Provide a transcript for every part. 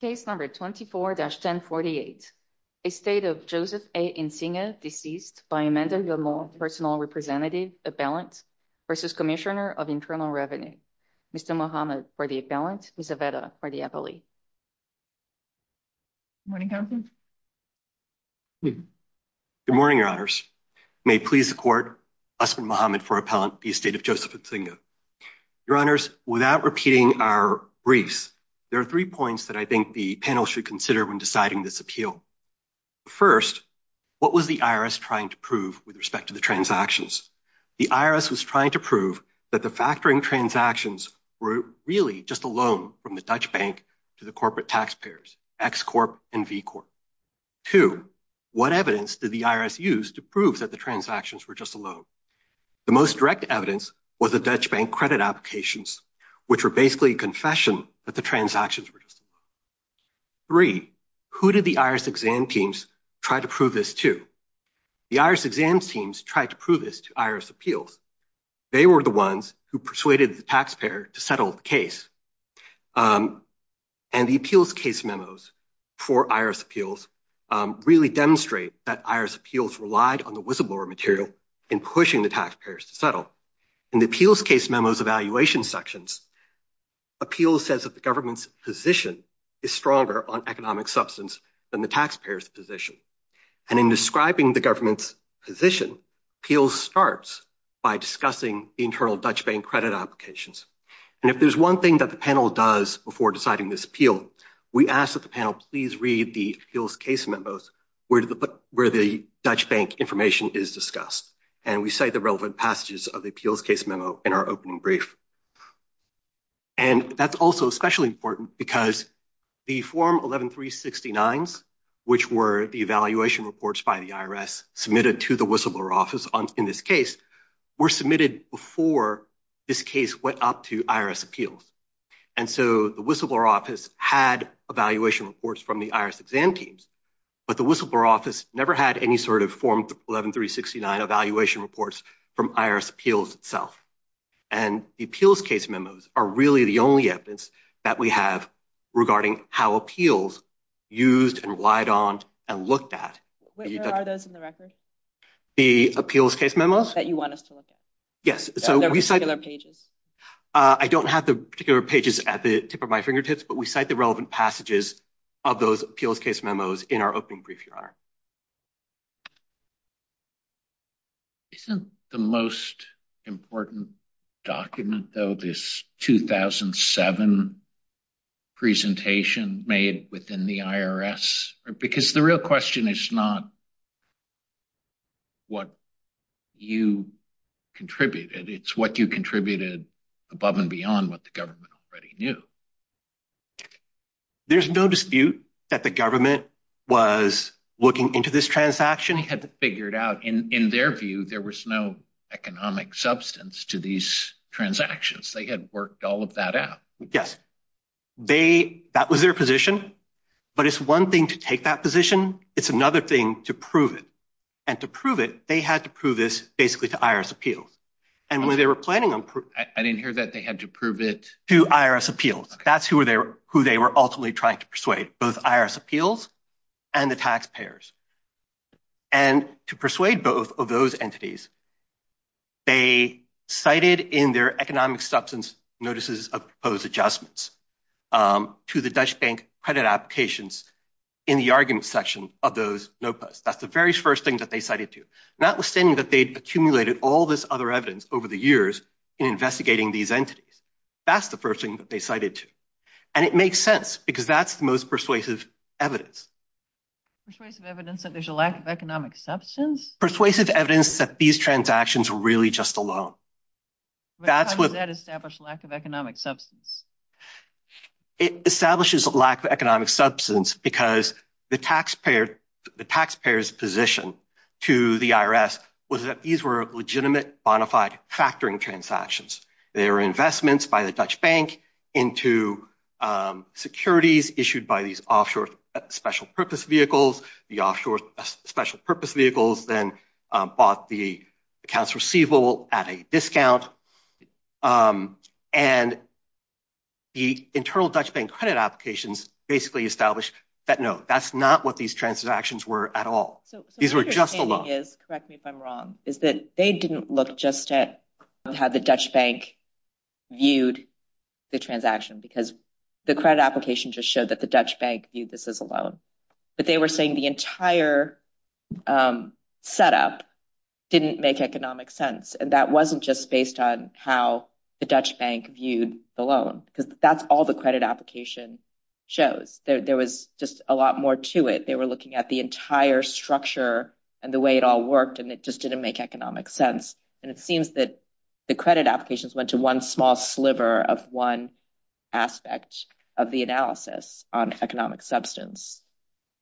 Case number 24-1048. Estate of Joseph A. Insinga deceased by Amanda Gilmour, personal representative, appellant versus commissioner of internal revenue. Mr. Muhammad for the appellant, Ms. Aveda for the appellee. Good morning, your honors. May it please the court, husband Muhammad for appellant, the estate of Joseph Insinga. Your honors, without repeating our briefs, there are three points that I think the panel should consider when deciding this appeal. First, what was the IRS trying to prove with respect to the transactions? The IRS was trying to prove that the factoring transactions were really just a loan from the Dutch bank to the corporate taxpayers, X Corp and V Corp. Two, what evidence did the IRS use to prove that the transactions were just a loan? The most direct evidence was the Dutch bank credit applications, which were basically a confession that the transactions were just a loan. Three, who did the IRS exam teams try to prove this to? The IRS exam teams tried to prove this to IRS appeals. They were the ones who persuaded the taxpayer to settle the case. And the appeals case memos for IRS appeals really demonstrate that IRS appeals relied on the whistleblower material in pushing the taxpayers to settle. In the appeals case memos evaluation sections, appeals says that the government's position is stronger on economic substance than the taxpayer's position. And in describing the government's position, appeals starts by discussing internal Dutch bank credit applications. And if there's one thing that the panel does before deciding this appeal, we ask that the panel please read the appeals case memos where the Dutch bank information is discussed. And we cite the relevant passages of the appeals case memo in our opening brief. And that's also especially important because the form 11-369s, which were the evaluation reports by the IRS submitted to the whistleblower office in this case, were submitted before this case went up to IRS appeals. And so the whistleblower office had evaluation reports from the IRS exam teams, but the whistleblower office never had any sort of form 11-369 evaluation reports from IRS appeals itself. And the appeals case memos are really the only evidence that we have regarding how appeals used and relied on and looked at. Where are those in the record? The appeals case pages at the tip of my fingertips, but we cite the relevant passages of those appeals case memos in our opening brief, your honor. Isn't the most important document though this 2007 presentation made within the IRS? Because the real question is not what you contributed. It's what you contributed above and beyond what the government already knew. There's no dispute that the government was looking into this transaction. They had to figure it out. In their view, there was no economic substance to these transactions. They had worked all of that out. Yes. That was their position, but it's one thing to take that position. It's another thing to prove it. And to prove it, they had to prove this basically to IRS appeals. And when they were I didn't hear that. They had to prove it to IRS appeals. That's who they were ultimately trying to persuade, both IRS appeals and the taxpayers. And to persuade both of those entities, they cited in their economic substance notices of proposed adjustments to the Dutch bank credit applications in the argument section of those note posts. That's the very first thing that notwithstanding that they'd accumulated all this other evidence over the years in investigating these entities. That's the first thing that they cited to. And it makes sense because that's the most persuasive evidence. Persuasive evidence that there's a lack of economic substance? Persuasive evidence that these transactions were really just a loan. How does that establish lack of economic substance? It establishes lack of economic substance because the taxpayer's position to the IRS was that these were legitimate bonafide factoring transactions. They were investments by the Dutch bank into securities issued by these offshore special purpose vehicles. The offshore special internal Dutch bank credit applications basically established that no, that's not what these transactions were at all. These were just a loan. Correct me if I'm wrong, is that they didn't look just at how the Dutch bank viewed the transaction because the credit application just showed that the Dutch bank viewed this as a loan. But they were saying the entire setup didn't make economic sense. And that wasn't just based on how the Dutch bank viewed the loan because that's all the credit application shows. There was just a lot more to it. They were looking at the entire structure and the way it all worked and it just didn't make economic sense. And it seems that the credit applications went to one small sliver of one aspect of the analysis on economic substance.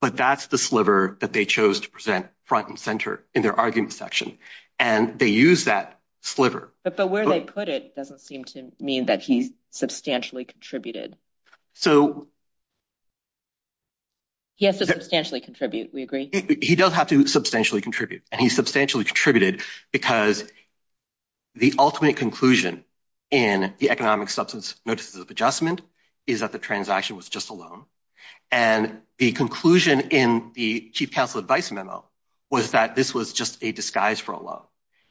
But that's the sliver that they chose to present front and center in their argument section. And they use that sliver. But where they put it doesn't seem to mean that he substantially contributed. He has to substantially contribute, we agree. He does have to substantially contribute. And he substantially contributed because the ultimate conclusion in the economic substance notices of adjustment is that the transaction was just a loan. And the conclusion in the chief counsel advice memo was that this was just a disguise for a loan.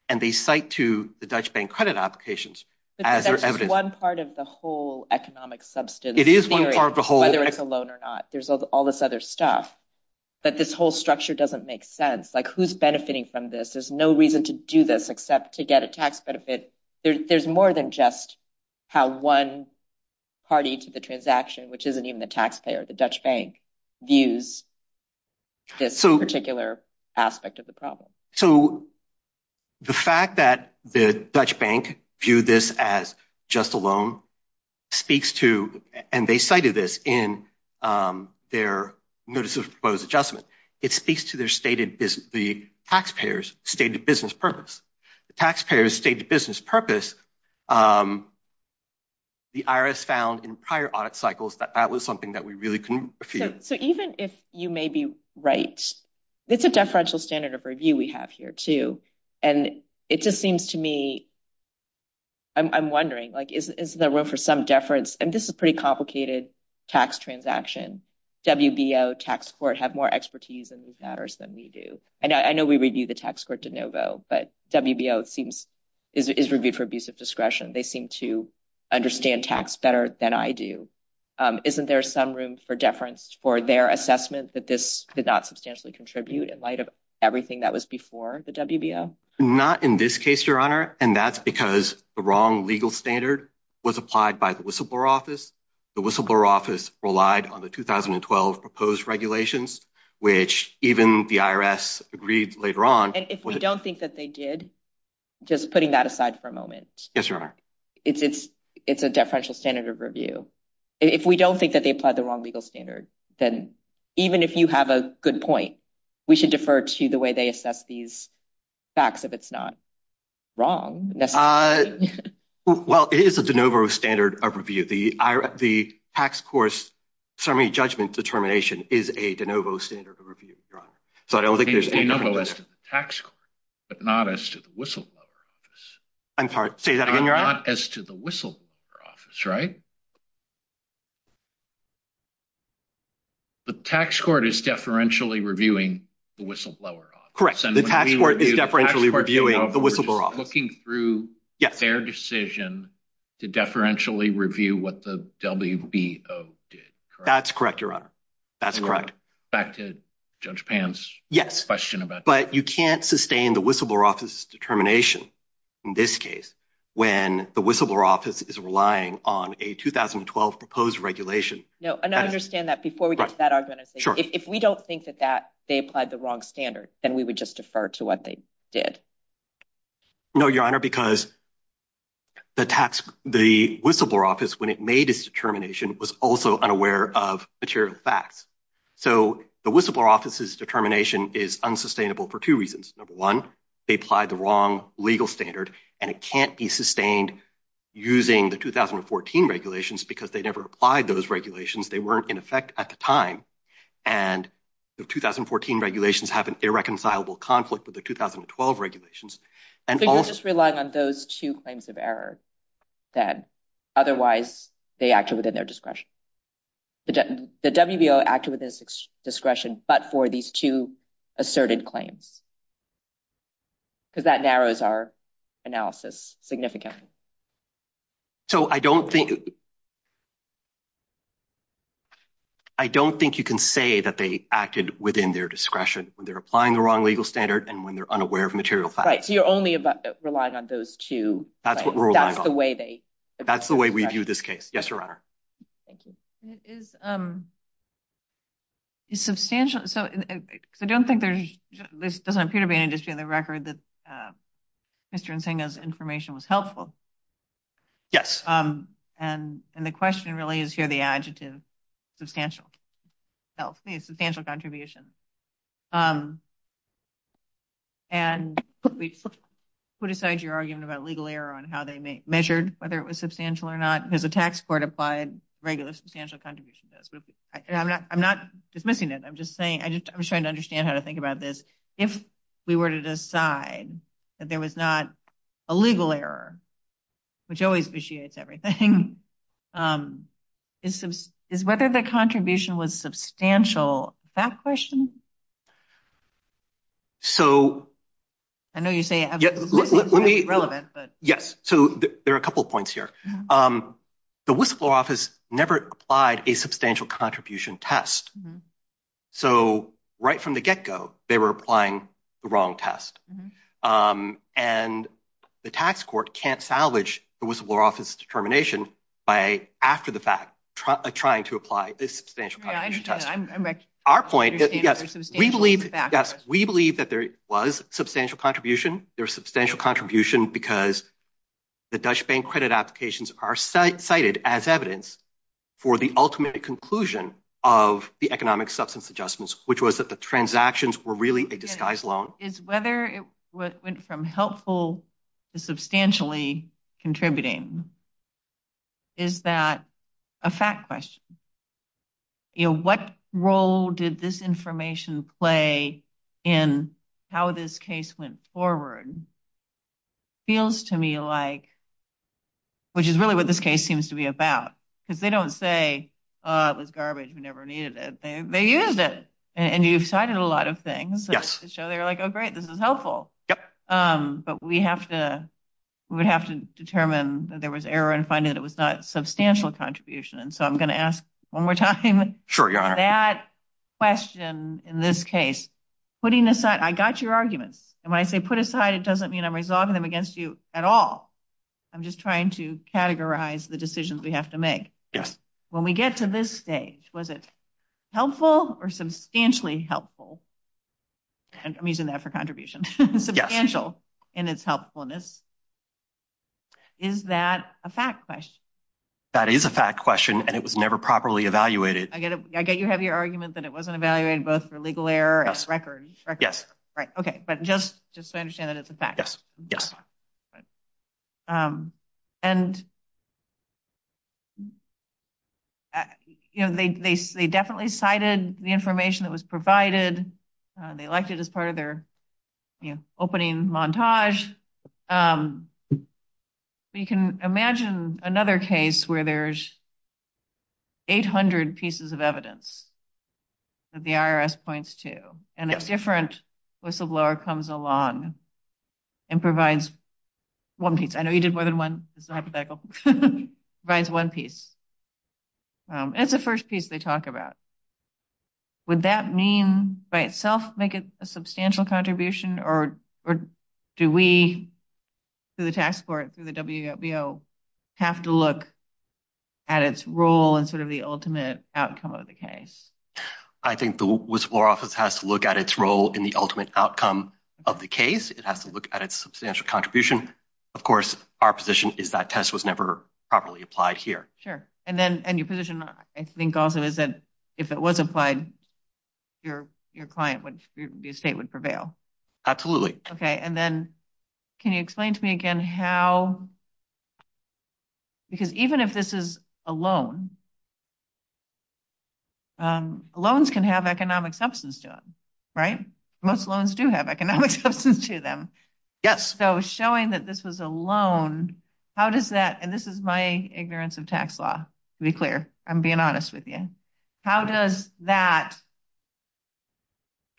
And they cite to the Dutch bank credit applications as their evidence. But that's one part of the whole economic substance. It is one part of the whole. Whether it's a loan or not. There's all this other stuff. But this whole structure doesn't make sense. Like who's benefiting from this? There's no reason to do this except to get a tax benefit. There's more than just how one party to the transaction, which isn't even the taxpayer, the Dutch bank, views this particular aspect of the problem. So the fact that the Dutch bank viewed this as just a loan speaks to, and they cited this in their notice of proposed adjustment, it speaks to their stated, the taxpayers' stated business purpose. The taxpayers' stated business purpose, the IRS found in prior audit cycles that that was something that we really couldn't refute. So even if you may be right, it's a deferential standard of review we have here too. And it just seems to me, I'm wondering, like is there room for some deference? And this is a pretty complicated tax transaction. WBO, tax court have more expertise in these matters than we do. And I know we review the tax court de novo, but WBO seems, is reviewed for abuse of discretion. They seem to understand tax better than I do. Isn't there some room for deference for their assessment that this did not substantially contribute in light of everything that was before the WBO? Not in this case, your honor. And that's because the wrong legal standard was applied by the whistleblower office. The whistleblower office relied on the 2012 proposed regulations, which even the IRS agreed later on. And if we don't think that they did, just putting that aside for a moment. Yes, your honor. It's a deferential standard of review. If we don't think that they applied the wrong legal standard, then even if you have a good point, we should defer to the way they assess these facts if it's not wrong. Well, it is a de novo standard of review. The tax court's summary judgment determination is a de novo standard of review, your honor. So I don't think there's- De novo as to the tax court, but not as to the whistleblower office. I'm sorry, say that again, your honor? Not as to the whistleblower office, right? The tax court is deferentially reviewing the whistleblower office. Correct. The tax court is deferentially reviewing the whistleblower office. We're just looking through their decision to deferentially review what the WBO did. That's correct, your honor. That's correct. Back to Judge Pan's question about- Yes, but you can't sustain the whistleblower office's determination in this case when the whistleblower office is relying on a 2012 proposed regulation. No, and I understand that. Before we get to that argument, if we don't think that they applied the wrong standard, then we would just defer to what they did. No, your honor, because the whistleblower office, when it made its determination, was also unaware of material facts. So the whistleblower office's determination is unsustainable for two reasons. Number one, they applied the wrong legal standard, and it can't be sustained using the 2014 regulations because they never applied those regulations. They weren't in effect at the time. And the 2014 regulations have irreconcilable conflict with the 2012 regulations. So you're just relying on those two claims of error, then? Otherwise, they acted within their discretion. The WBO acted within its discretion, but for these two asserted claims, because that narrows our analysis significantly. I don't think you can say that they acted within their discretion when applying the wrong legal standard and when they're unaware of material facts. Right, so you're only relying on those two claims. That's what we're relying on. That's the way we view this case. Yes, your honor. I don't think there doesn't appear to be any dispute in the record that Mr. Nsingha's information was helpful. Yes. And the question really is here the adjective substantial. Substantial contribution. And put aside your argument about legal error on how they measured whether it was substantial or not, because a tax court applied regular substantial contribution. I'm not dismissing it. I'm just saying I'm trying to understand how to think about this. If we were to decide that there was not a legal error, which always vitiates everything, is whether the contribution was substantial that question? I know you say it's relevant. Yes, so there are a couple of points here. The whistleblower office never applied a substantial contribution test. So right from the get-go, they were applying the wrong test. And the tax court can't salvage the whistleblower office determination by, after the fact, trying to apply a substantial contribution test. I understand. Our point is, yes, we believe that there was substantial contribution. There was substantial contribution because the Dutch bank credit applications are cited as evidence for the ultimate conclusion of the economic substance adjustments, which was that the transactions were really a disguised loan. Is whether it went from helpful to substantially contributing? Is that a fact question? You know, what role did this information play in how this case went forward? Feels to me like, which is really what this case seems to be about, because they don't say, oh, it was garbage. We never needed it. They used it. And you've cited a lot of things that show they're like, oh, great, this is helpful. But we have to, we would have to determine that there was error in finding that it was not substantial contribution. And so I'm going to ask one more time that question in this case, putting aside, I got your arguments. And when I say put aside, it doesn't mean I'm resolving them against you at all. I'm just trying to categorize the decisions we have to make. When we get to this stage, was it helpful or substantially helpful? And I'm using that for contribution. Substantial in its helpfulness. Is that a fact question? That is a fact question. And it was never properly evaluated. I get it. I get you have your argument that it wasn't evaluated both for legal error and record. Yes. Right. OK. But just just to understand that it's a fact. Yes. Yes. And, you know, they they they definitely cited the information that was provided. They liked it as part of their opening montage. But you can imagine another case where there's 800 pieces of evidence that the IRS points to and a different whistleblower comes along and provides one piece. I know you did more than one. This is a hypothetical. Provides one piece. And it's the first piece they talk about. Would that mean by itself make it a substantial contribution or or do we through the tax court, through the W.B.O. have to look at its role and sort of the ultimate outcome of the case? I think the whistleblower office has to look at its role in the ultimate outcome of the case. It has to look at its substantial contribution. Of course, our position is that test was never properly applied here. Sure. And then and your position, I think, also is that if it was applied, your your client would be a state would prevail. Absolutely. OK. And then can you explain to me again how? Because even if this is a loan. Loans can have economic substance to it. Right. Most loans do have economic substance to them. Yes. So showing that this was a loan, how does that and this is my ignorance of tax law, to be clear. I'm being honest with you. How does that.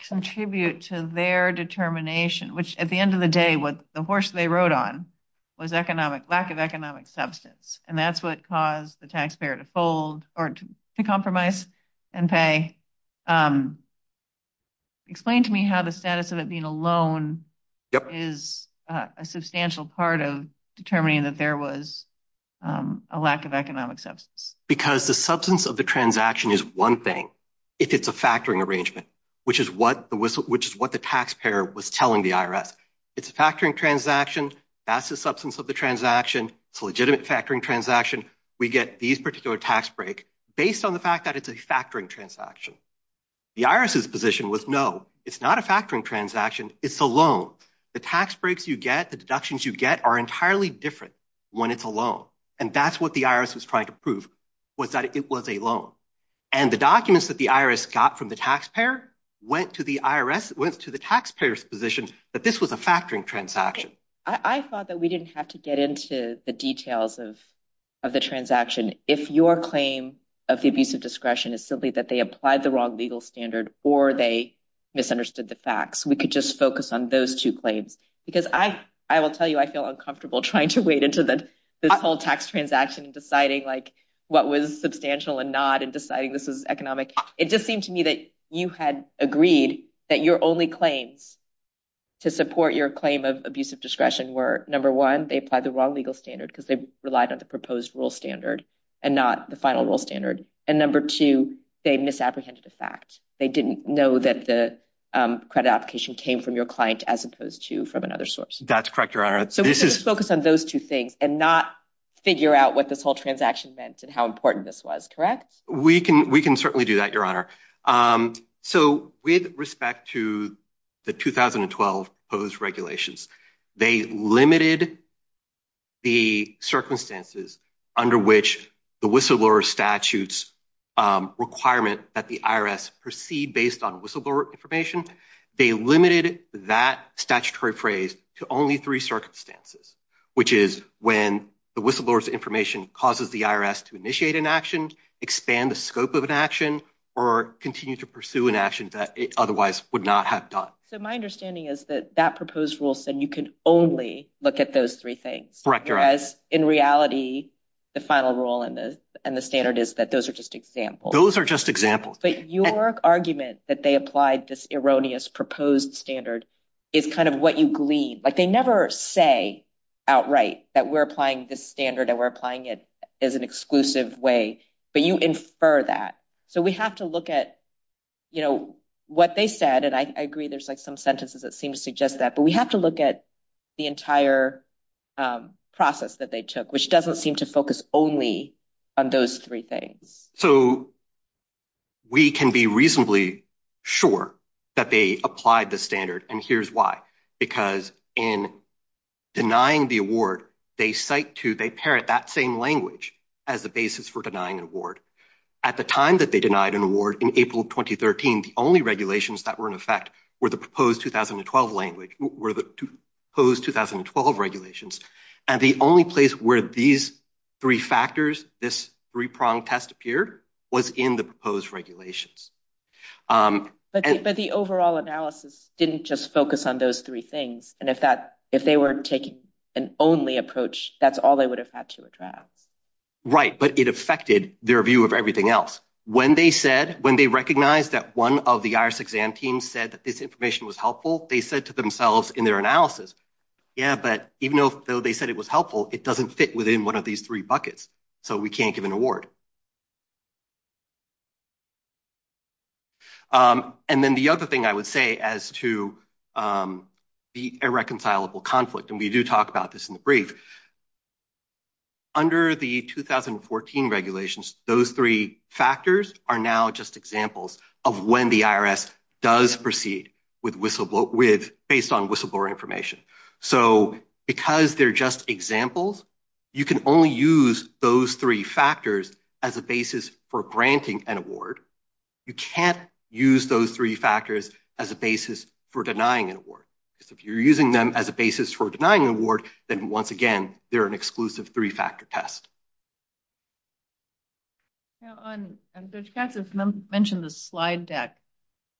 Contribute to their determination, which at the end of the day, what the horse they rode on was economic lack of economic substance, and that's what caused the taxpayer to fold or to compromise and pay. Explain to me how the status of it being a loan. Is a substantial part of determining that there was a lack of economic substance? Because the substance of the transaction is one thing. If it's a factoring arrangement, which is what the whistle, which is what the taxpayer was telling the IRS, it's a factoring transaction. That's the substance of the transaction. It's a legitimate factoring transaction. We get these particular tax break based on the fact that it's a factoring transaction. The irises position was, no, it's not a factoring transaction. It's a loan. The tax breaks you get, the deductions you get are entirely different when it's alone. And that's what the IRS was trying to prove was that it was a loan. And the documents that the IRS got from the taxpayer went to the IRS, went to the taxpayers position that this was a factoring transaction. I thought that we didn't have to get into the details of the transaction. If your claim of the abusive discretion is simply that they applied the wrong legal standard, or they misunderstood the facts, we could just focus on those two claims. Because I will tell you, I feel uncomfortable trying to wade into this whole tax transaction and deciding what was substantial and not and deciding this is economic. It just seemed to me that you had agreed that your only claims to support your claim of abusive discretion were, number one, they applied the wrong legal standard because they relied on the proposed rule standard and not the final rule standard. And number two, they misapprehended the fact. They didn't know that the credit application came from your client as opposed to from another source. That's correct, Your Honor. So we just focus on those two things and not figure out what this whole transaction meant and how important this was, correct? We can certainly do that, Your Honor. So with respect to the 2012 proposed regulations, they limited the circumstances under which the whistleblower statutes requirement that the IRS proceed based on whistleblower information. They limited that statutory phrase to only three circumstances, which is when the whistleblower's information causes the IRS to initiate an action, expand the scope of an action, or continue to pursue an action that it otherwise would not have done. So my understanding is that that you can only look at those three things. Correct, Your Honor. Whereas in reality, the final rule and the standard is that those are just examples. Those are just examples. But your argument that they applied this erroneous proposed standard is kind of what you glean. Like, they never say outright that we're applying this standard and we're applying it as an exclusive way, but you infer that. So we have to look at what they said, and I agree there's some sentences that seem to suggest that, but we have to look at the entire process that they took, which doesn't seem to focus only on those three things. So we can be reasonably sure that they applied the standard, and here's why. Because in denying the award, they cite to, they parrot that same language as the basis for denying an award. At the time that they denied an award, in April 2013, the only regulations that were in effect were the proposed 2012 regulations. And the only place where these three factors, this three-pronged test appeared, was in the proposed regulations. But the overall analysis didn't just focus on those three things, and if they were taking an only approach, that's all they would have had to address. Right, but it affected their view of everything else. When they said, when they recognized that one of the IRS exam teams said that this information was helpful, they said to themselves in their analysis, yeah, but even though they said it was helpful, it doesn't fit within one of these three buckets, so we can't give an award. And then the other thing I would say as to the irreconcilable conflict, and we do talk about this in the brief, under the 2014 regulations, those three factors are now just examples of when the IRS does proceed based on whistleblower information. So because they're just examples, you can only use those three factors as a basis for granting an award. You can't use those three factors as a basis for denying an award, because if you're using them as a basis for denying an award, then once again, they're an exclusive three-factor test. Yeah, and Judge Katz mentioned the slide deck,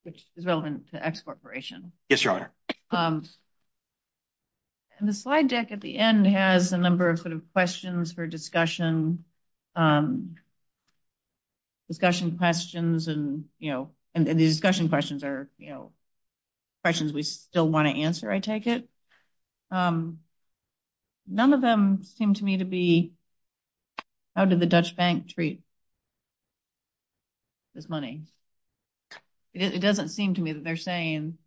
which is relevant to X Corporation. Yes, Your Honor. And the slide deck at the end has a number of sort of questions for discussion, discussion questions, and, you know, and the discussion questions are, you know, questions we still want to answer, I take it. None of them seem to me to be, how did the Dutch Bank treat this money? It doesn't seem to me that they're saying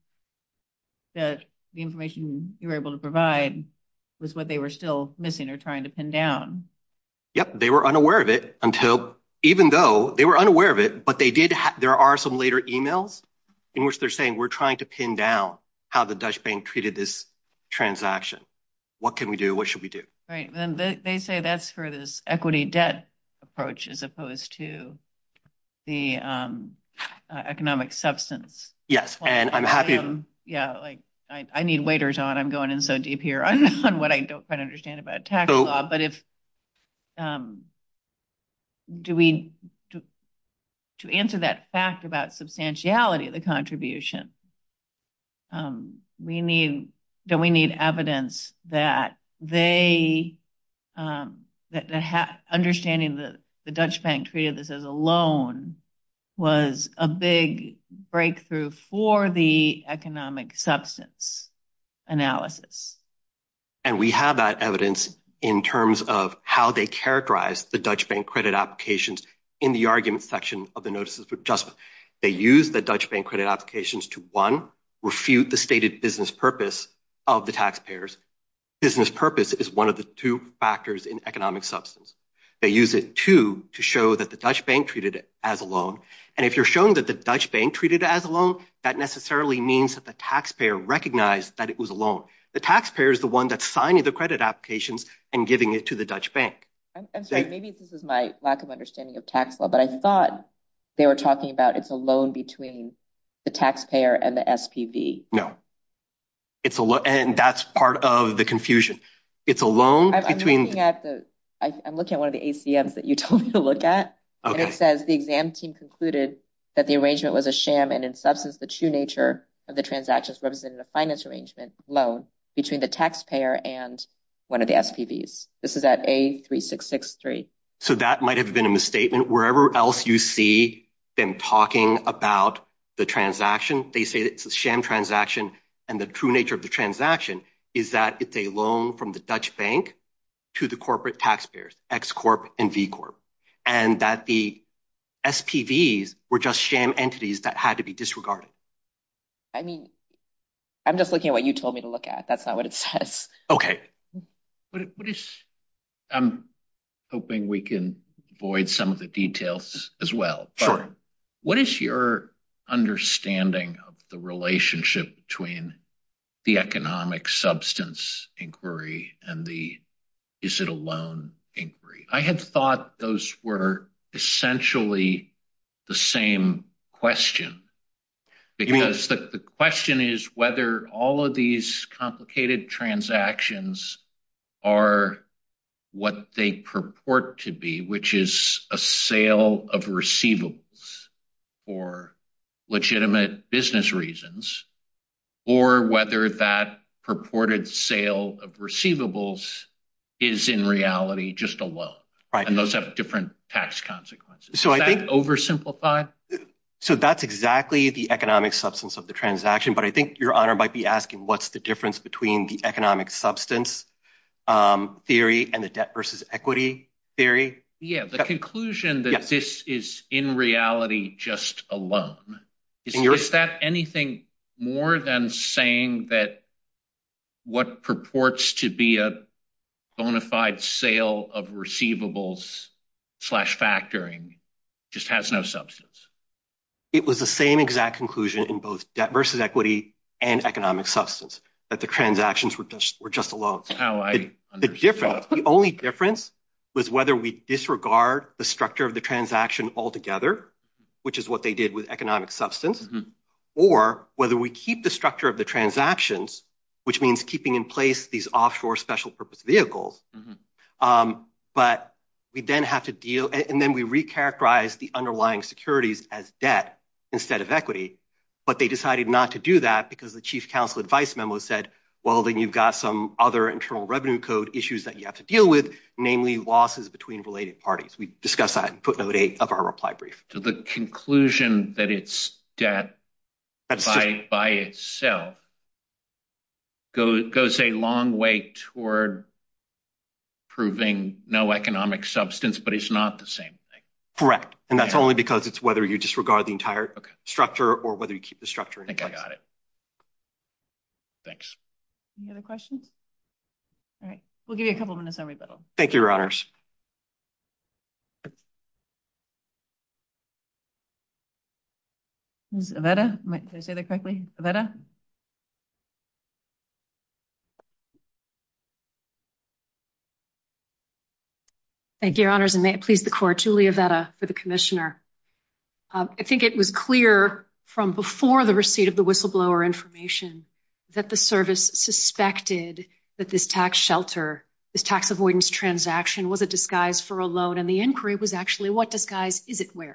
that the information you were able to provide was what they were still missing or trying to pin down. Yep, they were unaware of it until, even though they were unaware of it, but they did, there are some later emails in which they're saying we're trying to pin down how the Dutch Bank treated this transaction. What can we do? What should we do? Right, and they say that's for this equity debt approach as opposed to the economic substance. Yes, and I'm happy. Yeah, like I need waiters on, I'm going in so deep here on what I don't quite understand about tax law, but if, do we, to answer that fact about substantiality of the contribution, we need, do we need evidence that they, that understanding the Dutch Bank treated this as a loan was a big breakthrough for the economic substance analysis? And we have that evidence in terms of how they characterize the Dutch Bank credit applications in the argument section of the notices for adjustment. They use the Dutch Bank credit applications to, one, refute the stated business purpose of the taxpayers. Business purpose is one of the two factors in economic substance. They use it, two, to show that the Dutch Bank treated as a loan, and if you're showing that the Dutch Bank treated as a loan, that necessarily means that the taxpayer recognized that it was a loan. The taxpayer is the one that's signing the credit applications and giving it to the Dutch Bank. I'm sorry, maybe this is my lack of understanding of tax law, but I thought they were talking about it's a loan between the taxpayer and the SPV. No. It's a loan, and that's part of the confusion. It's a loan between- I'm looking at the, I'm looking at one of the ACMs that you told me to look at, and it says the exam team concluded that the arrangement was a sham, and in substance, the true nature of the transactions represented a finance arrangement loan between the taxpayer and one of the SPVs. This is at A3663. So that might have been a misstatement. Wherever else you see them talking about the transaction, they say it's a sham transaction, and the true nature of the transaction is that it's a loan from the Dutch Bank to the corporate taxpayers, X Corp and V Corp, and that the SPVs were just sham entities that had to be disregarded. I mean, I'm just looking at what you told me to look at. That's not what it says. Okay. I'm hoping we can avoid some of the details as well. Sure. What is your understanding of the relationship between the economic substance inquiry and the, is it a loan inquiry? I had thought those were essentially the same question, because the question is whether all of these complicated transactions are what they purport to be, which is a sale of receivables for legitimate business reasons, or whether that purported sale of receivables is in reality just a loan, and those have different tax consequences. So I think- Is that oversimplified? So that's exactly the economic substance of the transaction, but I think your honor might be asking what's the difference between the economic substance theory and the debt versus equity theory. Yeah. The conclusion that this is in reality just a loan. Is that anything more than saying that what purports to be a bona fide sale of receivables slash factoring just has no substance? It was the same exact conclusion in both debt versus equity and economic substance, that the transactions were just a loan. That's how I understand it. The only difference was whether we disregard the structure of the transaction altogether, which is what they did with economic substance, or whether we keep the structure of the transactions, which means keeping in place these offshore special purpose vehicles. But we then have to deal, and then we recharacterize the underlying securities as debt instead of equity, but they decided not to do that because the chief counsel advice memo said, well, then you've got some other internal revenue code issues that you have to deal with, namely losses between related parties. We discussed that in put note eight of our reply brief. So the conclusion that it's debt by itself goes a long way toward proving no economic substance, but it's not the same thing. Correct. And that's only because it's whether you disregard the entire structure or whether you keep the structure in place. I think I got it. Thanks. Any other questions? All right. We'll give you a couple of minutes on rebuttal. Thank you, your honors. Who's Avetta? Did I say that correctly? Avetta? Thank you, your honors, and may it please the court, Julia Avetta for the commissioner. I think it was clear from before the receipt of the whistleblower information that the service suspected that this tax shelter, this tax avoidance transaction, was a disguise for a loan, and the inquiry was actually what disguise is it wearing,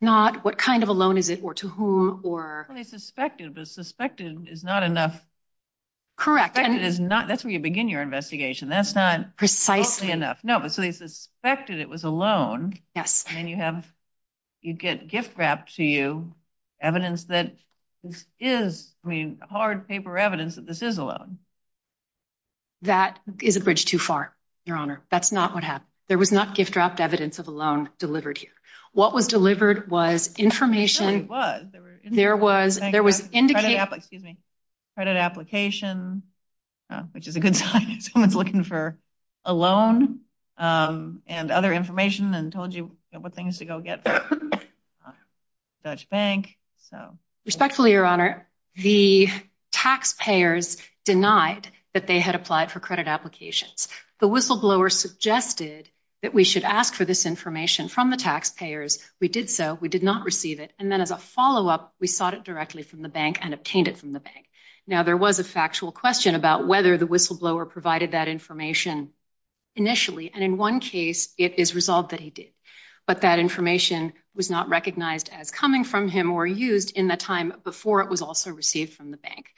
not what kind of a loan is it or to whom or. Well, they suspected, but suspected is not enough. Correct. And it is not. That's where you begin your investigation. That's not. Precisely. Enough. No, but so they suspected it was a loan. Yes. And you have you get gift wrapped to you evidence that this is, I mean, hard paper evidence that this is a loan. That is a bridge too far, your honor. That's not what happened. There was not gift wrapped evidence of a loan delivered here. What was delivered was information. There was. There was indicated. Credit application, which is a good sign. Someone's looking for a loan and other information and told you what things to go get from the Dutch bank. So respectfully, your honor, the taxpayers denied that they had applied for credit applications. The whistleblower suggested that we should ask for this information from the taxpayers. We did so. We did not receive it. And then as a follow up, we sought it directly from the bank and obtained it from the bank. Now, there was a factual question about whether the whistleblower provided that information initially. And in one case, it is resolved that he did. But that information was not recognized as coming from him or used in the time before it was also received from the bank.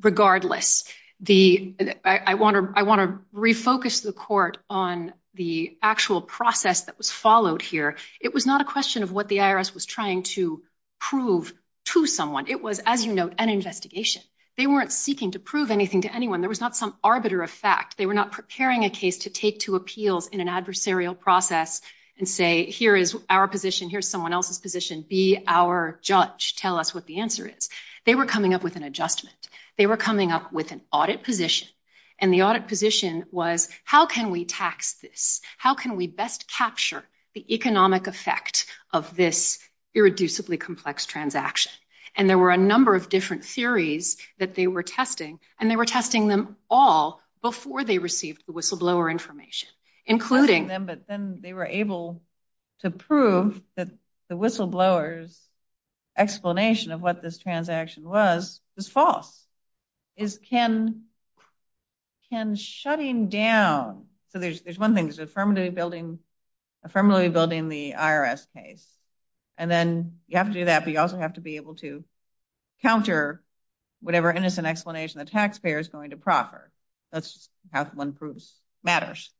Regardless, the I want to I want to refocus the court on the actual process that was followed here. It was not a question of what the IRS was trying to prove to someone. It was, as you know, an investigation. They weren't seeking to prove anything to anyone. There was not some arbiter of fact. They were not preparing a case to take to appeals in an adversarial process and say, here is our position. Here's someone else's position. Be our judge. Tell us what the answer is. They were coming up with an adjustment. They were coming up with an audit position. And the audit position was, how can we tax this? How can we best capture the economic effect of this irreducibly complex transaction? And there were a number of theories that they were testing and they were testing them all before they received the whistleblower information, including them. But then they were able to prove that the whistleblowers explanation of what this transaction was, was false. Is Ken Ken shutting down? So there's one thing is affirmatively building, affirmatively building the IRS case. And then you have to do counter whatever innocent explanation the taxpayer is going to proffer. That's just how one proves matters.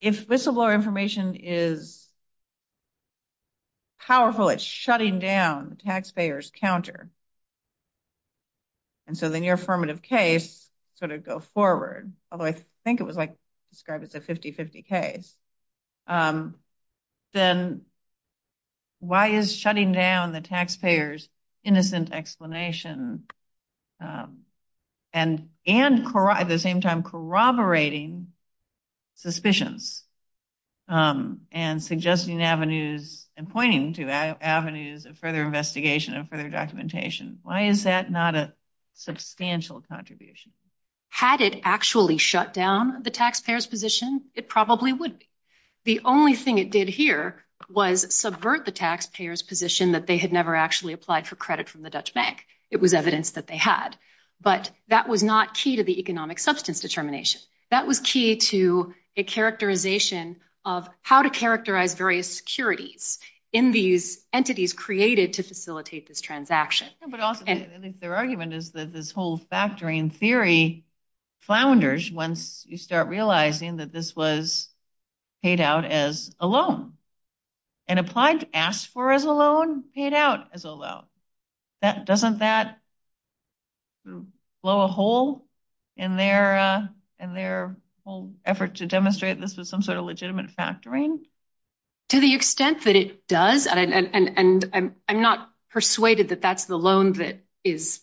If whistleblower information is powerful, it's shutting down the taxpayer's counter. And so then your affirmative case sort of go forward. Although I think it was like described as a 50-50 case. Then why is shutting down the taxpayer's innocent explanation and at the same time corroborating suspicions and suggesting avenues and pointing to avenues of further investigation and further documentation? Why is that not a substantial contribution? Had it actually shut down the taxpayer's position? It probably would be. The only thing it did here was subvert the taxpayer's position that they had never actually applied for credit from the Dutch bank. It was evidence that they had, but that was not key to the economic substance determination. That was key to a characterization of how to characterize various securities in these entities created to facilitate this transaction. But also their argument is that this whole factoring theory flounders once you start realizing that this was paid out as a loan and applied to ask for as a loan paid out as a loan. Doesn't that blow a hole in their whole effort to demonstrate this was some sort of legitimate factoring? To the extent that it does, and I'm not persuaded that that's the loan that is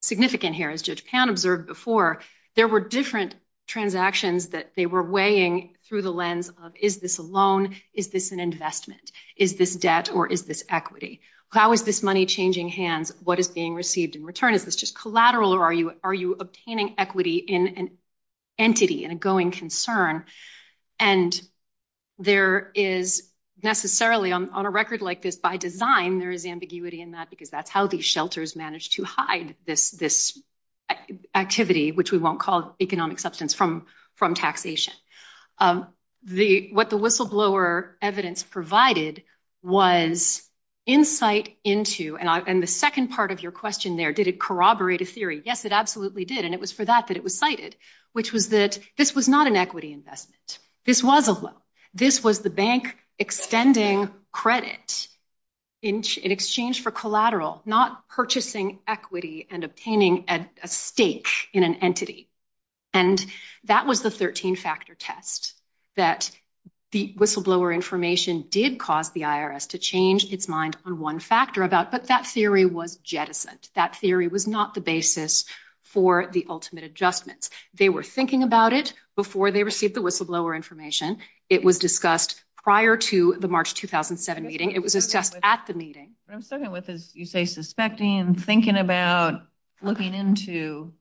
significant here. As Judge Pound observed before, there were different transactions that they were weighing through the lens of, is this a loan? Is this an investment? Is this debt or is this equity? How is this money changing hands? What is being received in return? Is this just collateral or are you obtaining equity in an entity, in a going concern? And there is necessarily, on a record like this, by design, there is ambiguity in that, because that's how these shelters managed to hide this activity, which we won't call economic substance, from taxation. What the whistleblower evidence provided was insight into, and the second part of your question there, did it corroborate a theory? Yes, it absolutely did. And it was for that that it was cited, which was that this was not an equity investment. This was a loan. This was the bank extending credit in exchange for collateral, not purchasing equity and obtaining a stake in an entity. And that was the 13-factor test that the whistleblower information did cause the IRS to change its mind on one factor about. But that theory was jettisoned. That theory was not the basis for the ultimate adjustments. They were thinking about it before they received the whistleblower information. It was discussed prior to the March 2007 meeting. It was discussed at the meeting. What I'm struggling with is, you say, suspecting and thinking about, looking into,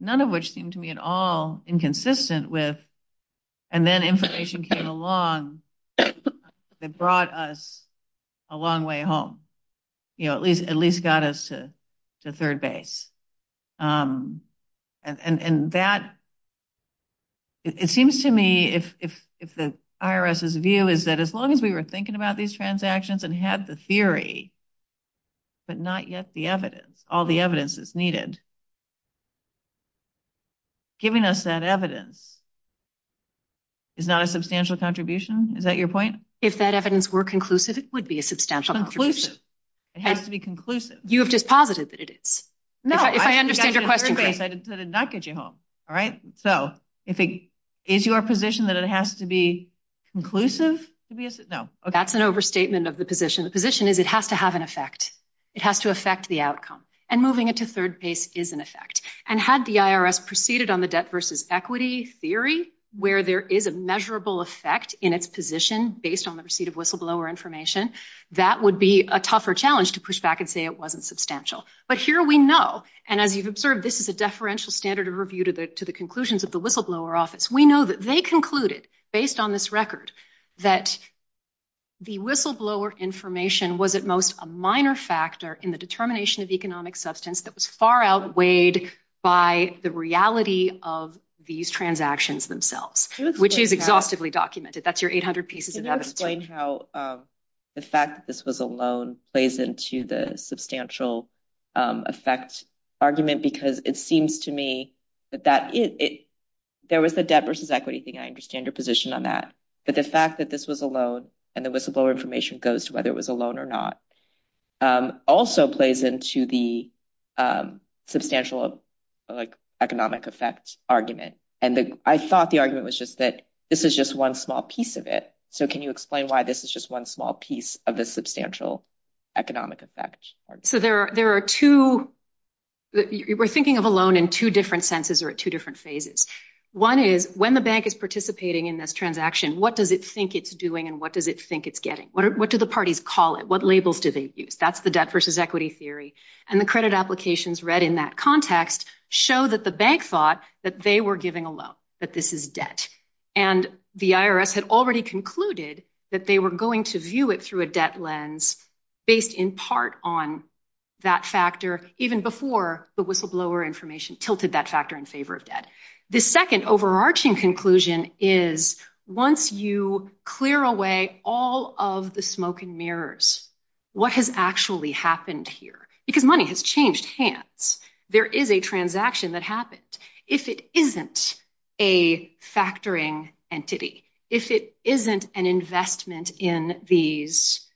none of which seemed to me at all inconsistent with, and then information came along that brought us a long way home, at least got us to third base. It seems to me, if the IRS's view is that as long as we were thinking about these transactions and had the theory, but not yet the evidence, all the evidence is needed, and giving us that evidence is not a substantial contribution. Is that your point? If that evidence were conclusive, it would be a substantial contribution. It has to be conclusive. You have just posited that it is. No, I did not get you home. All right. So, is your position that it has to be conclusive? That's an overstatement of the position. The position is it has to have an effect. It has to affect the outcome. And moving it to third base is an effect. And had the IRS proceeded on the debt versus equity theory, where there is a measurable effect in its position based on the receipt of whistleblower information, that would be a tougher challenge to push back and say it wasn't substantial. But here we know, and as you've observed, this is a deferential standard of review to the conclusions of the whistleblower office. We know that they concluded, based on this record, that the whistleblower information was at most a minor factor in the determination of economic substance that was far outweighed by the reality of these transactions themselves, which is exhaustively documented. That's your 800 pieces of evidence. Can you explain how the fact that this was a loan plays into the substantial effect argument? Because it seems to me that there was the debt versus equity thing. I think the fact that this was a loan, and the whistleblower information goes to whether it was a loan or not, also plays into the substantial economic effect argument. And I thought the argument was just that this is just one small piece of it. So can you explain why this is just one small piece of the substantial economic effect argument? So there are two... We're thinking of a loan in two different senses or two different phases. One is when the bank is participating in this transaction, what does it think it's doing and what does it think it's getting? What do the parties call it? What labels do they use? That's the debt versus equity theory. And the credit applications read in that context show that the bank thought that they were giving a loan, that this is debt. And the IRS had already concluded that they were going to view it through a debt lens based in part on that factor even before the whistleblower information tilted that factor in favor of debt. The second overarching conclusion is once you clear away all of the smoke and mirrors, what has actually happened here? Because money has changed hands. There is a transaction that happened. If it isn't a factoring entity, if it isn't an investment in these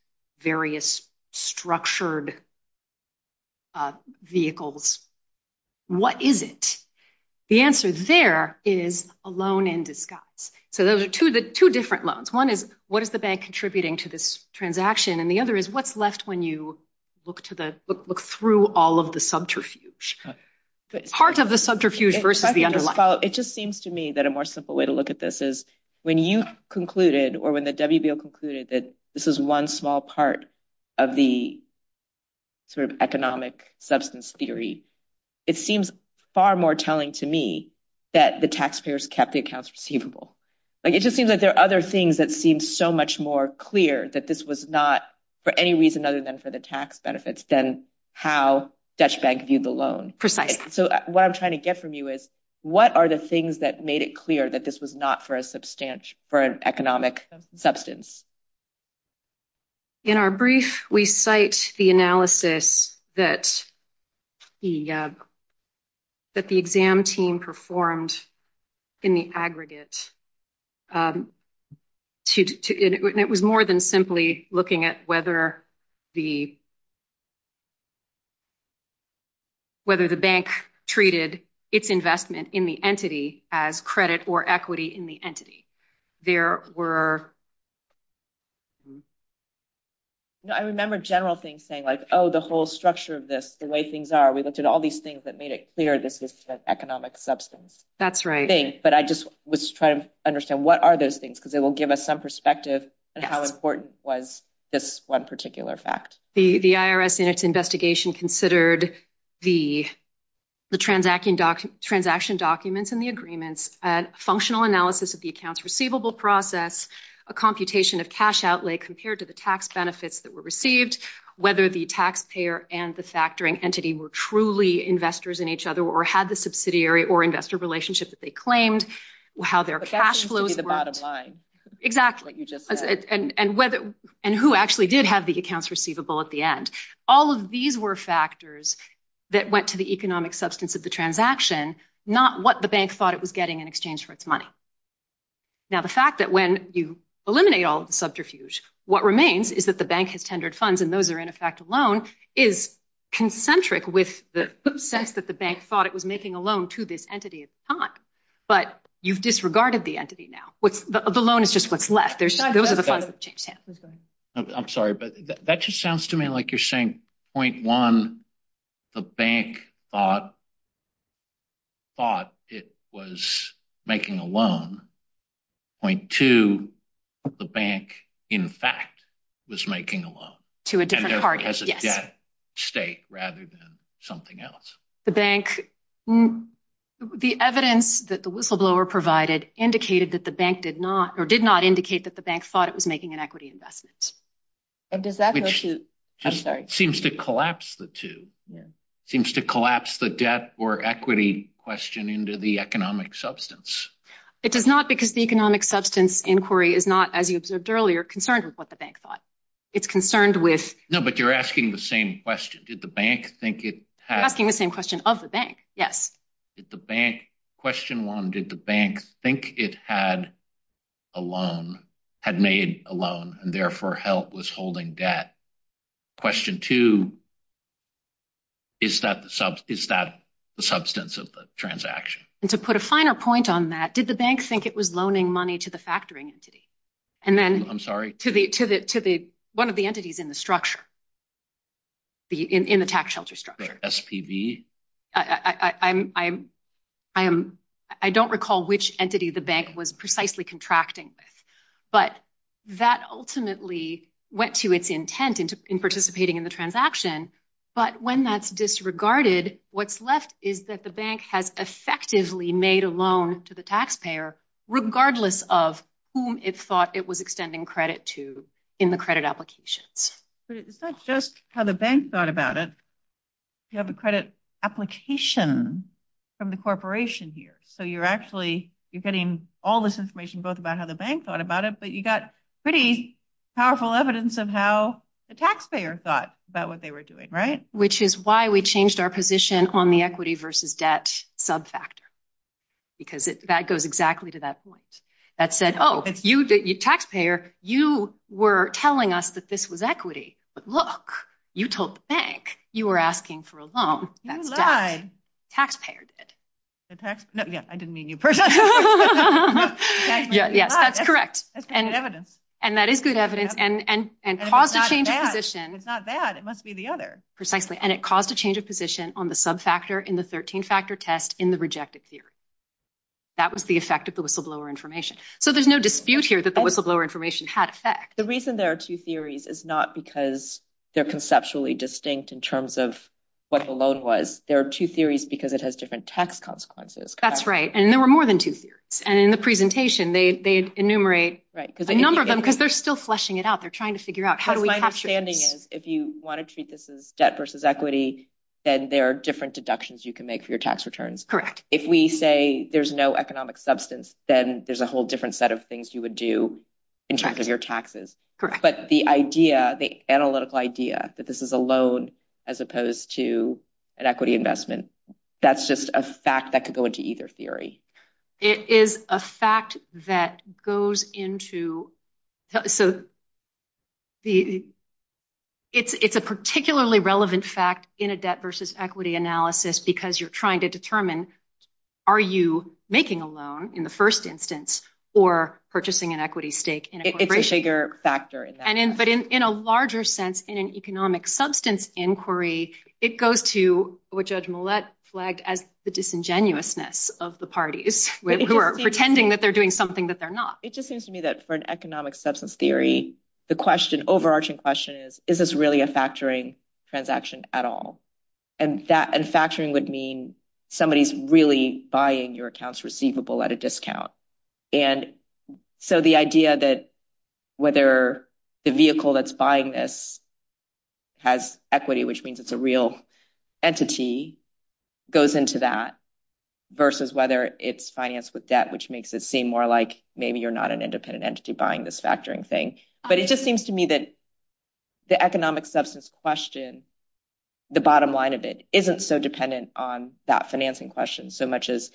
various structured vehicles, what is it? The answer there is a loan in disguise. So those are two different loans. One is what is the bank contributing to this transaction? And the other is what's left when you look through all of the subterfuge? Part of the subterfuge versus the underlying. It just seems to me that a more simple way to look at this is when you concluded or when the WBO concluded that this is one small part of the economic substance theory, it seems far more telling to me that the taxpayers kept the accounts receivable. It just seems that there are other things that seem so much more clear that this was not for any reason other than for the tax benefits than how Dutch Bank viewed the loan. So what I'm trying to get from you is what are the things that made it clear that this was not for an economic substance? In our brief, we cite the analysis that the exam team performed in the aggregate. It was more than simply looking at whether the bank treated its investment in the entity as credit or equity in the entity. There were... I remember general things saying like, oh, the whole structure of this, the way things are, we looked at all these things that made it clear this is an economic substance. That's right. But I just was trying to understand what are those things because it will give us some perspective on how important was this one particular fact. The IRS, in its investigation, considered the transaction documents and the agreements, a functional analysis of the accounts receivable process, a computation of cash outlay compared to the tax benefits that were received, whether the taxpayer and the factoring entity were truly investors in each other or had the subsidiary or investor relationship that they claimed, how their cash flows... Cash used to be the bottom line. Exactly. Like you just said. And who actually did have the accounts receivable at the end. All of these were factors that went to the economic substance of the transaction, not what the bank thought it was getting in exchange for its money. Now, the fact that when you eliminate all of the subterfuge, what remains is that the bank has tendered funds and those are in effect a loan, is concentric with the sense that the bank thought it was making a loan to this entity at the time. But you've disregarded the entity now. The loan is just what's left. Those are the funds that changed hands. I'm sorry, but that just sounds to me like you're saying, point one, the bank thought it was making a loan. Point two, the bank, in fact, was making a loan. To a different target. As a debt state rather than something else. The bank, the evidence that the whistleblower provided indicated that the bank did not, or did not indicate that the bank thought it was making an equity investment. And does that go to, I'm sorry. Seems to collapse the two. Seems to collapse the debt or equity question into the economic substance. It does not because the economic substance inquiry is not, as you observed earlier, concerned with what the bank thought. It's concerned with. No, but you're asking the same question. Did the bank think it had. Asking the same question of the bank. Yes. Question one, did the bank think it had a loan, had made a loan and therefore was holding debt? Question two, is that the substance of the transaction? And to put a finer point on that, did the bank think it was loaning money to the factoring entity? And then. I'm sorry. To the, to the, to the, one of the entities in the structure. The, in the tax shelter structure. SPV. I, I, I'm, I'm, I am, I don't recall which entity the bank was precisely contracting. But that ultimately went to its intent into participating in the transaction. But when that's disregarded, what's left is that the bank has effectively made a loan to the taxpayer, regardless of whom it thought it was extending credit to in the credit applications. But it's not just how the bank thought about it. You have a credit application from the corporation here. So you're actually, you're getting all this information, both about how the bank thought about it, but you got pretty powerful evidence of how the taxpayer thought about what they were doing, right? Which is why we changed our position on the equity versus debt subfactor. Because it, that goes exactly to that point that said, oh, you did your taxpayer. You were telling us that this was equity. But look, you told the bank you were asking for a loan. That's debt. Taxpayer did. The tax, no, yeah, I didn't mean you personally. Yeah, yes, that's correct. That's good evidence. And that is good evidence. And, and, and caused a change of position. It's not that, it must be the other. Precisely. And it caused a change of position on the subfactor in the 13-factor test in the rejected theory. That was the effect of the whistleblower information. So there's no dispute here that the whistleblower information had effect. The reason there are two theories is not because they're conceptually distinct in terms of what the loan was. There are two theories because it has different tax consequences. That's right. And there were more than two theories. And in the presentation, they, they enumerate a number of them because they're still fleshing it out. They're trying to figure out how do we capture this? If you want to treat this as debt versus equity, then there are different deductions you can make for your tax returns. Correct. If we say there's no economic substance, then there's a whole different set of things you would do in terms of your taxes. But the idea, the analytical idea that this is a loan as opposed to an equity investment, that's just a fact that could go into either theory. It is a fact that goes into, so the, it's, it's a particularly relevant fact in a debt versus equity analysis because you're trying to determine are you making a loan in the first instance or purchasing an equity stake in a corporation? It's a bigger factor in that. And in, but in, in a larger sense, in an economic substance inquiry, it goes to what Judge Millett flagged as the disingenuousness of the parties who are pretending that they're doing something that they're not. It just seems to me that for an economic substance theory, the question, overarching question is, is this really a factoring transaction at all? And that, and factoring would mean somebody's really buying your accounts receivable at a discount. And so the idea that whether the vehicle that's buying this has equity, which means it's a real entity goes into that versus whether it's financed with debt, which makes it seem more like maybe you're not an independent entity buying this factoring thing. But it just seems to me that the economic substance question, the bottom line of it isn't so dependent on that financing question so much as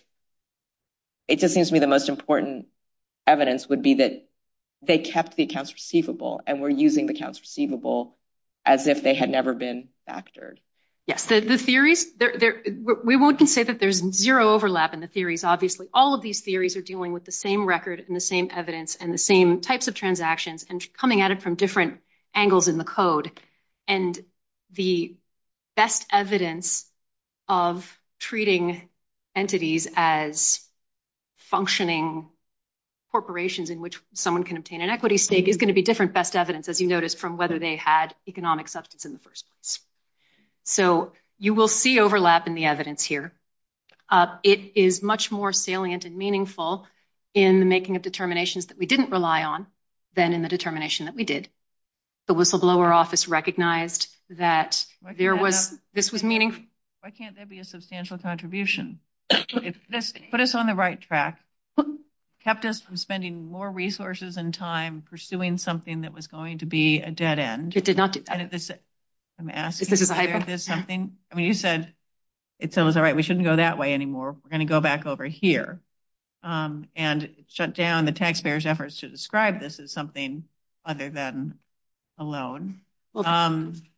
it just seems to me the most important evidence would be that they kept the accounts receivable and were using the accounts receivable as if they had never been factored. Yes, the theories there, we won't say that there's zero overlap in the theories. Obviously, all of these theories are dealing with the same record and the same evidence and the same types of transactions and coming at it from different angles in the code. And the best evidence of treating entities as functioning corporations in which someone can obtain an equity stake is going to be different best evidence, as you notice, from whether they had economic substance in the first place. So you will see overlap in the evidence here. It is much more salient and meaningful in the making of determinations that we didn't rely on than in the determination that we did. The whistleblower office recognized that there was, this was meaningful. Why can't there be a substantial contribution? If this put us on the right track, kept us from spending more resources and time pursuing something that was going to be a dead end. It did not. I'm asking, is this something, I mean, you said it sounds all right, we shouldn't go that way anymore. We're going to go back over here and shut down the taxpayers efforts to describe this as something other than a loan.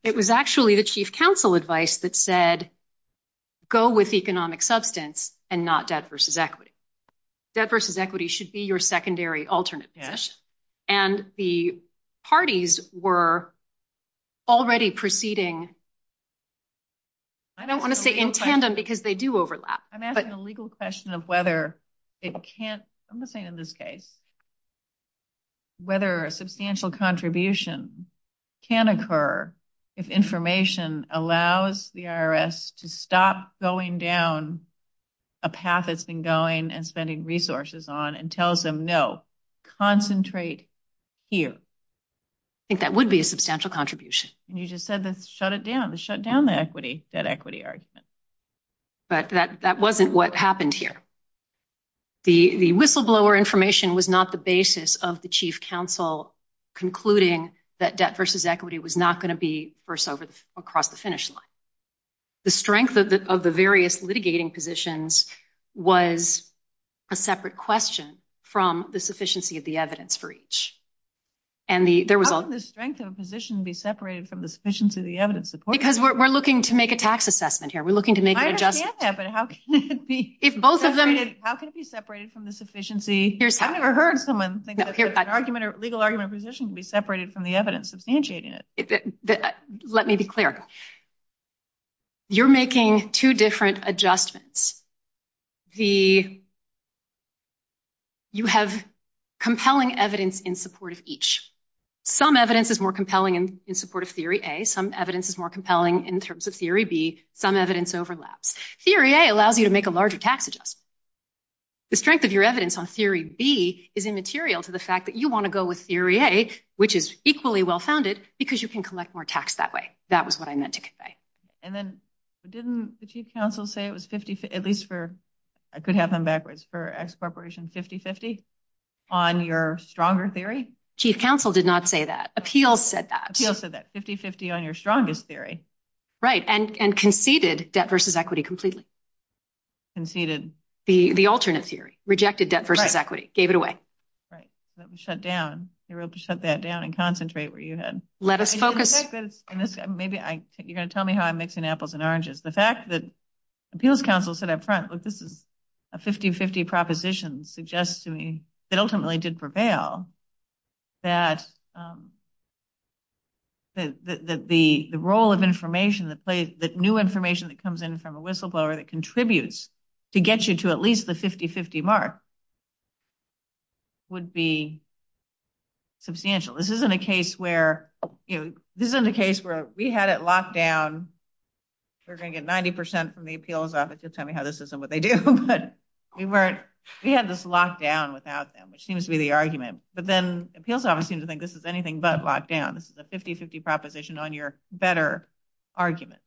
It was actually the chief counsel advice that said, go with economic substance and not debt versus equity. Debt versus equity should be your secondary alternate position. And the parties were already proceeding. I don't want to say in tandem because they do overlap. I'm asking a legal question of whether it can't, I'm just saying in this case. Whether a substantial contribution can occur if information allows the IRS to stop going down a path that's been going and spending resources on and tells them no, concentrate here. I think that would be a substantial contribution. You just said that shut it down, shut down the equity, that equity argument. But that wasn't what happened here. The whistleblower information was not the basis of the chief counsel concluding that debt versus equity was not going to be first across the finish line. The strength of the various litigating positions was a separate question from the sufficiency of the evidence for each. And there was a- How can the strength of a position be separated from the sufficiency of the evidence? Because we're looking to make a tax assessment here. We're looking to make an adjustment. I understand that, but how can it be? How can it be separated from the sufficiency? I've never heard someone think that an argument or legal argument position can be separated from the evidence substantiating it. Let me be clear. You're making two different adjustments. You have compelling evidence in support of each. Some evidence is more compelling in support of theory A. Some evidence is more compelling in terms of theory B. Some evidence overlaps. Theory A allows you to make a larger tax adjustment. The strength of your evidence on theory B is immaterial to the fact that you want to go with theory A, which is equally well-founded, because you can collect more tax that way. That was what I meant to convey. And then didn't the chief counsel say it was 50- at least for- I could have them backwards- for ex-corporation 50-50 on your stronger theory? Chief counsel did not say that. Appeals said that. Appeals said that. 50-50 on your strongest theory. Right, and conceded debt versus equity completely. Conceded. The alternate theory. Rejected debt versus equity. Gave it away. Right. Let me shut down. You're able to shut that down and concentrate where you had- Let us focus. Maybe you're going to tell me how I'm mixing apples and oranges. The fact that appeals counsel said up front, look, this is a 50-50 proposition suggests that ultimately did prevail, that the role of information that plays- that new information that comes in from a whistleblower that contributes to get you to at least the 50-50 mark would be substantial. This isn't a case where, you know, this isn't a case where we had it locked down. We're going to get 90% from the appeals office. You'll tell me how this isn't what they do. We weren't- we had this lockdown without them, which seems to be the argument. But then appeals office seems to think this is anything but lockdown. This is a 50-50 proposition on your better argument.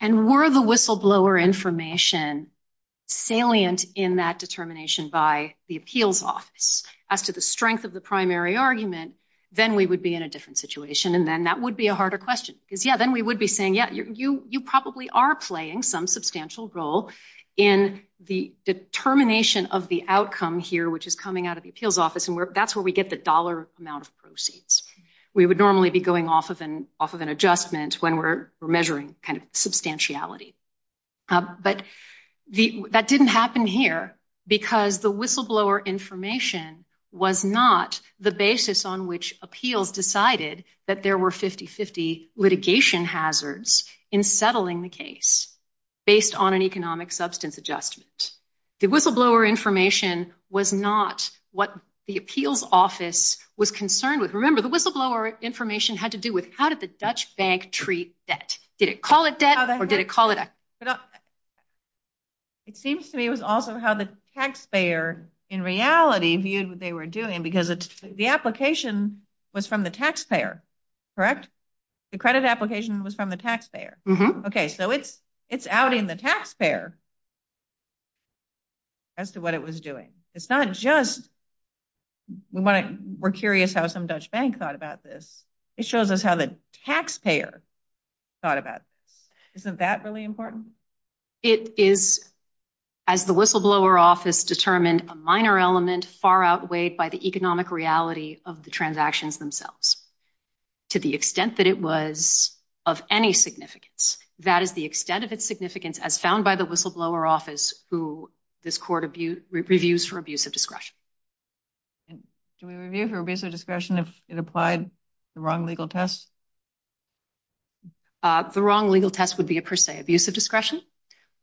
And were the whistleblower information salient in that determination by the appeals office as to the strength of the primary argument, then we would be in a different situation. And then that would be a harder question. Because, yeah, then we would be saying, yeah, you probably are playing some substantial role in the determination of the outcome here, which is coming out of the appeals office. And that's where we get the dollar amount of proceeds. We would normally be going off of an adjustment when we're measuring kind of substantiality. But that didn't happen here because the whistleblower information was not the basis on which appeals decided that there were 50-50 litigation hazards in settling the case based on an economic substance adjustment. The whistleblower information was not what the appeals office was concerned with. Remember, the whistleblower information had to do with how did the Dutch bank treat debt? Did it call it debt or did it call it- It seems to me it was also how the taxpayer in reality viewed what they were doing, because the application was from the taxpayer, correct? The credit application was from the taxpayer. Okay, so it's outing the taxpayer as to what it was doing. It's not just we're curious how some Dutch bank thought about this. It shows us how the taxpayer thought about this. Isn't that really important? It is, as the whistleblower office determined, a minor element far outweighed by the economic reality of the transactions themselves to the extent that it was of any significance. That is the extent of its significance as found by the whistleblower office who this court reviews for abuse of discretion. Do we review for abuse of discretion if it applied the wrong legal test? The wrong legal test would be a per se abuse of discretion,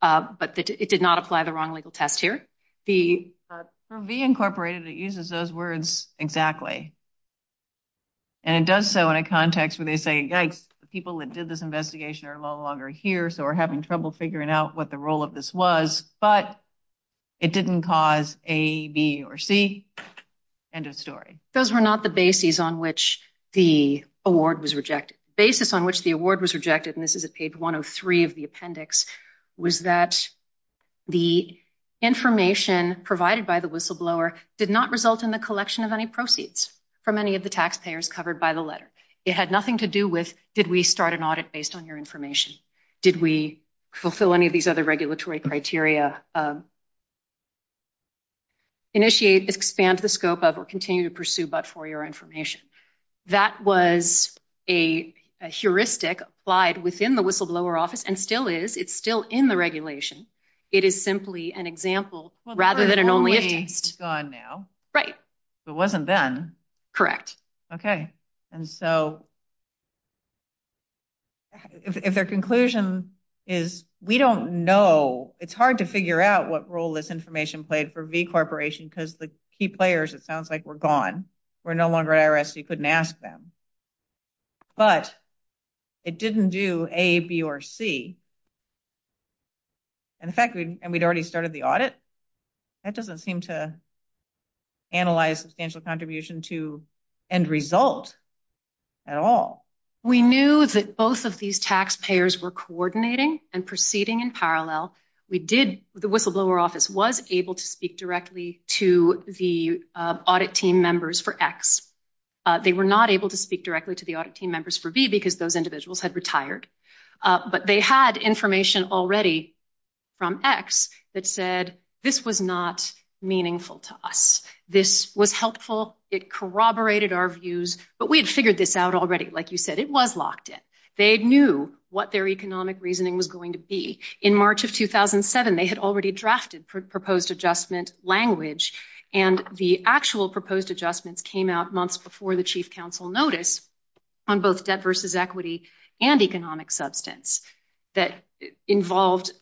but it did not apply the wrong legal test here. For V Incorporated, it uses those words exactly, and it does so in a context where they say, yikes, the people that did this investigation are no longer here, so we're having trouble figuring out what the role of this was, but it didn't cause A, B, or C. End of story. Those were not the basis on which the award was rejected. The basis on which the award was rejected, and this is at page 103 of the appendix, was that the information provided by the whistleblower did not result in the collection of any proceeds from any of the taxpayers covered by the letter. It had nothing to do with, did we start an audit based on your information? Did we fulfill any of these other regulatory criteria? Initiate, expand the scope of, or continue to pursue but for your information. That was a heuristic applied within the whistleblower office, and still is. It's still in the regulation. It is simply an example rather than an only if test. It's gone now. Right. It wasn't then. Okay, and so if their conclusion is, we don't know, it's hard to figure out what role this information played for V Corporation because the key players, it sounds like, were gone. We're no longer at IRS. You couldn't ask them. But it didn't do A, B, or C. And in fact, we'd already started the audit. That doesn't seem to analyze substantial contribution to end result at all. We knew that both of these taxpayers were coordinating and proceeding in parallel. We did, the whistleblower office was able to speak directly to the audit team members for X. They were not able to speak directly to the audit team members for B because those individuals had retired. But they had information already from X that said, this was not meaningful to us. This was helpful. It corroborated our views. But we had figured this out already. Like you said, it was locked in. They knew what their economic reasoning was going to be. In March of 2007, they had already drafted proposed adjustment language. And the actual proposed adjustments came out months before the chief counsel notice on both debt versus equity and economic substance that involved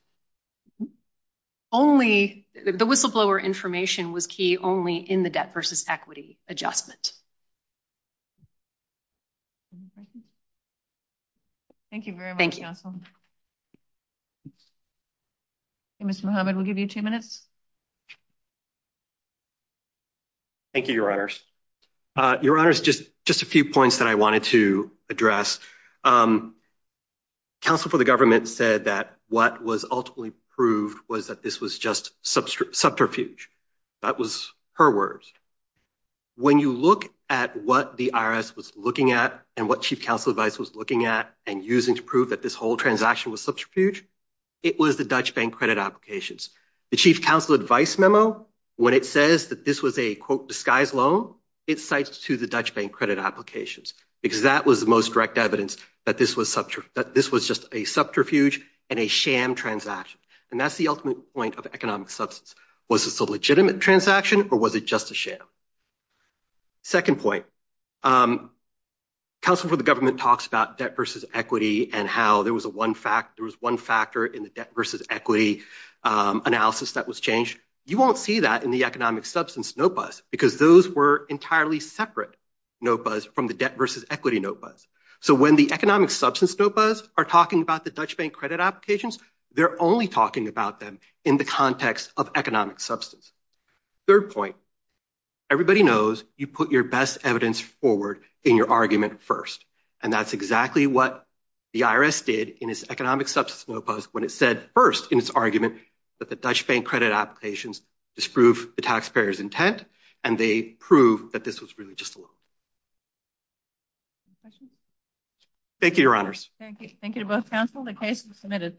only, the whistleblower information was key only in the debt versus equity adjustment. Thank you very much, counsel. Ms. Muhammad, we'll give you two minutes. Thank you, your honors. Your honors, just a few points that I wanted to address. Counsel for the government said that what was ultimately proved was that this was just subterfuge. That was her words. When you look at what the IRS was looking at and what chief counsel advice was looking at and using to prove that this whole transaction was subterfuge, it was the Dutch bank credit applications. The chief counsel advice memo, when it says that this was a quote, disguise loan, it cites to the Dutch bank credit applications, because that was the most direct evidence that this was just a subterfuge and a sham transaction. And that's the ultimate point of economic substance. Was this a legitimate transaction or was it just a sham? Second point. Counsel for the government talks about debt versus equity and how there was one factor in the debt versus equity analysis that was changed. You won't see that in the economic substance notepads because those were entirely separate notepads from the debt versus equity notepads. So when the economic substance notepads are talking about the Dutch bank credit applications, they're only talking about them in the context of economic substance. Third point. Everybody knows you put your best evidence forward in your argument first. And that's exactly what the IRS did in its economic substance notepad when it said first in its argument that the Dutch bank credit applications disprove the taxpayer's intent, and they prove that this was really just a loan. Thank you, your honors. Thank you. Thank you to both counsel. The case is submitted.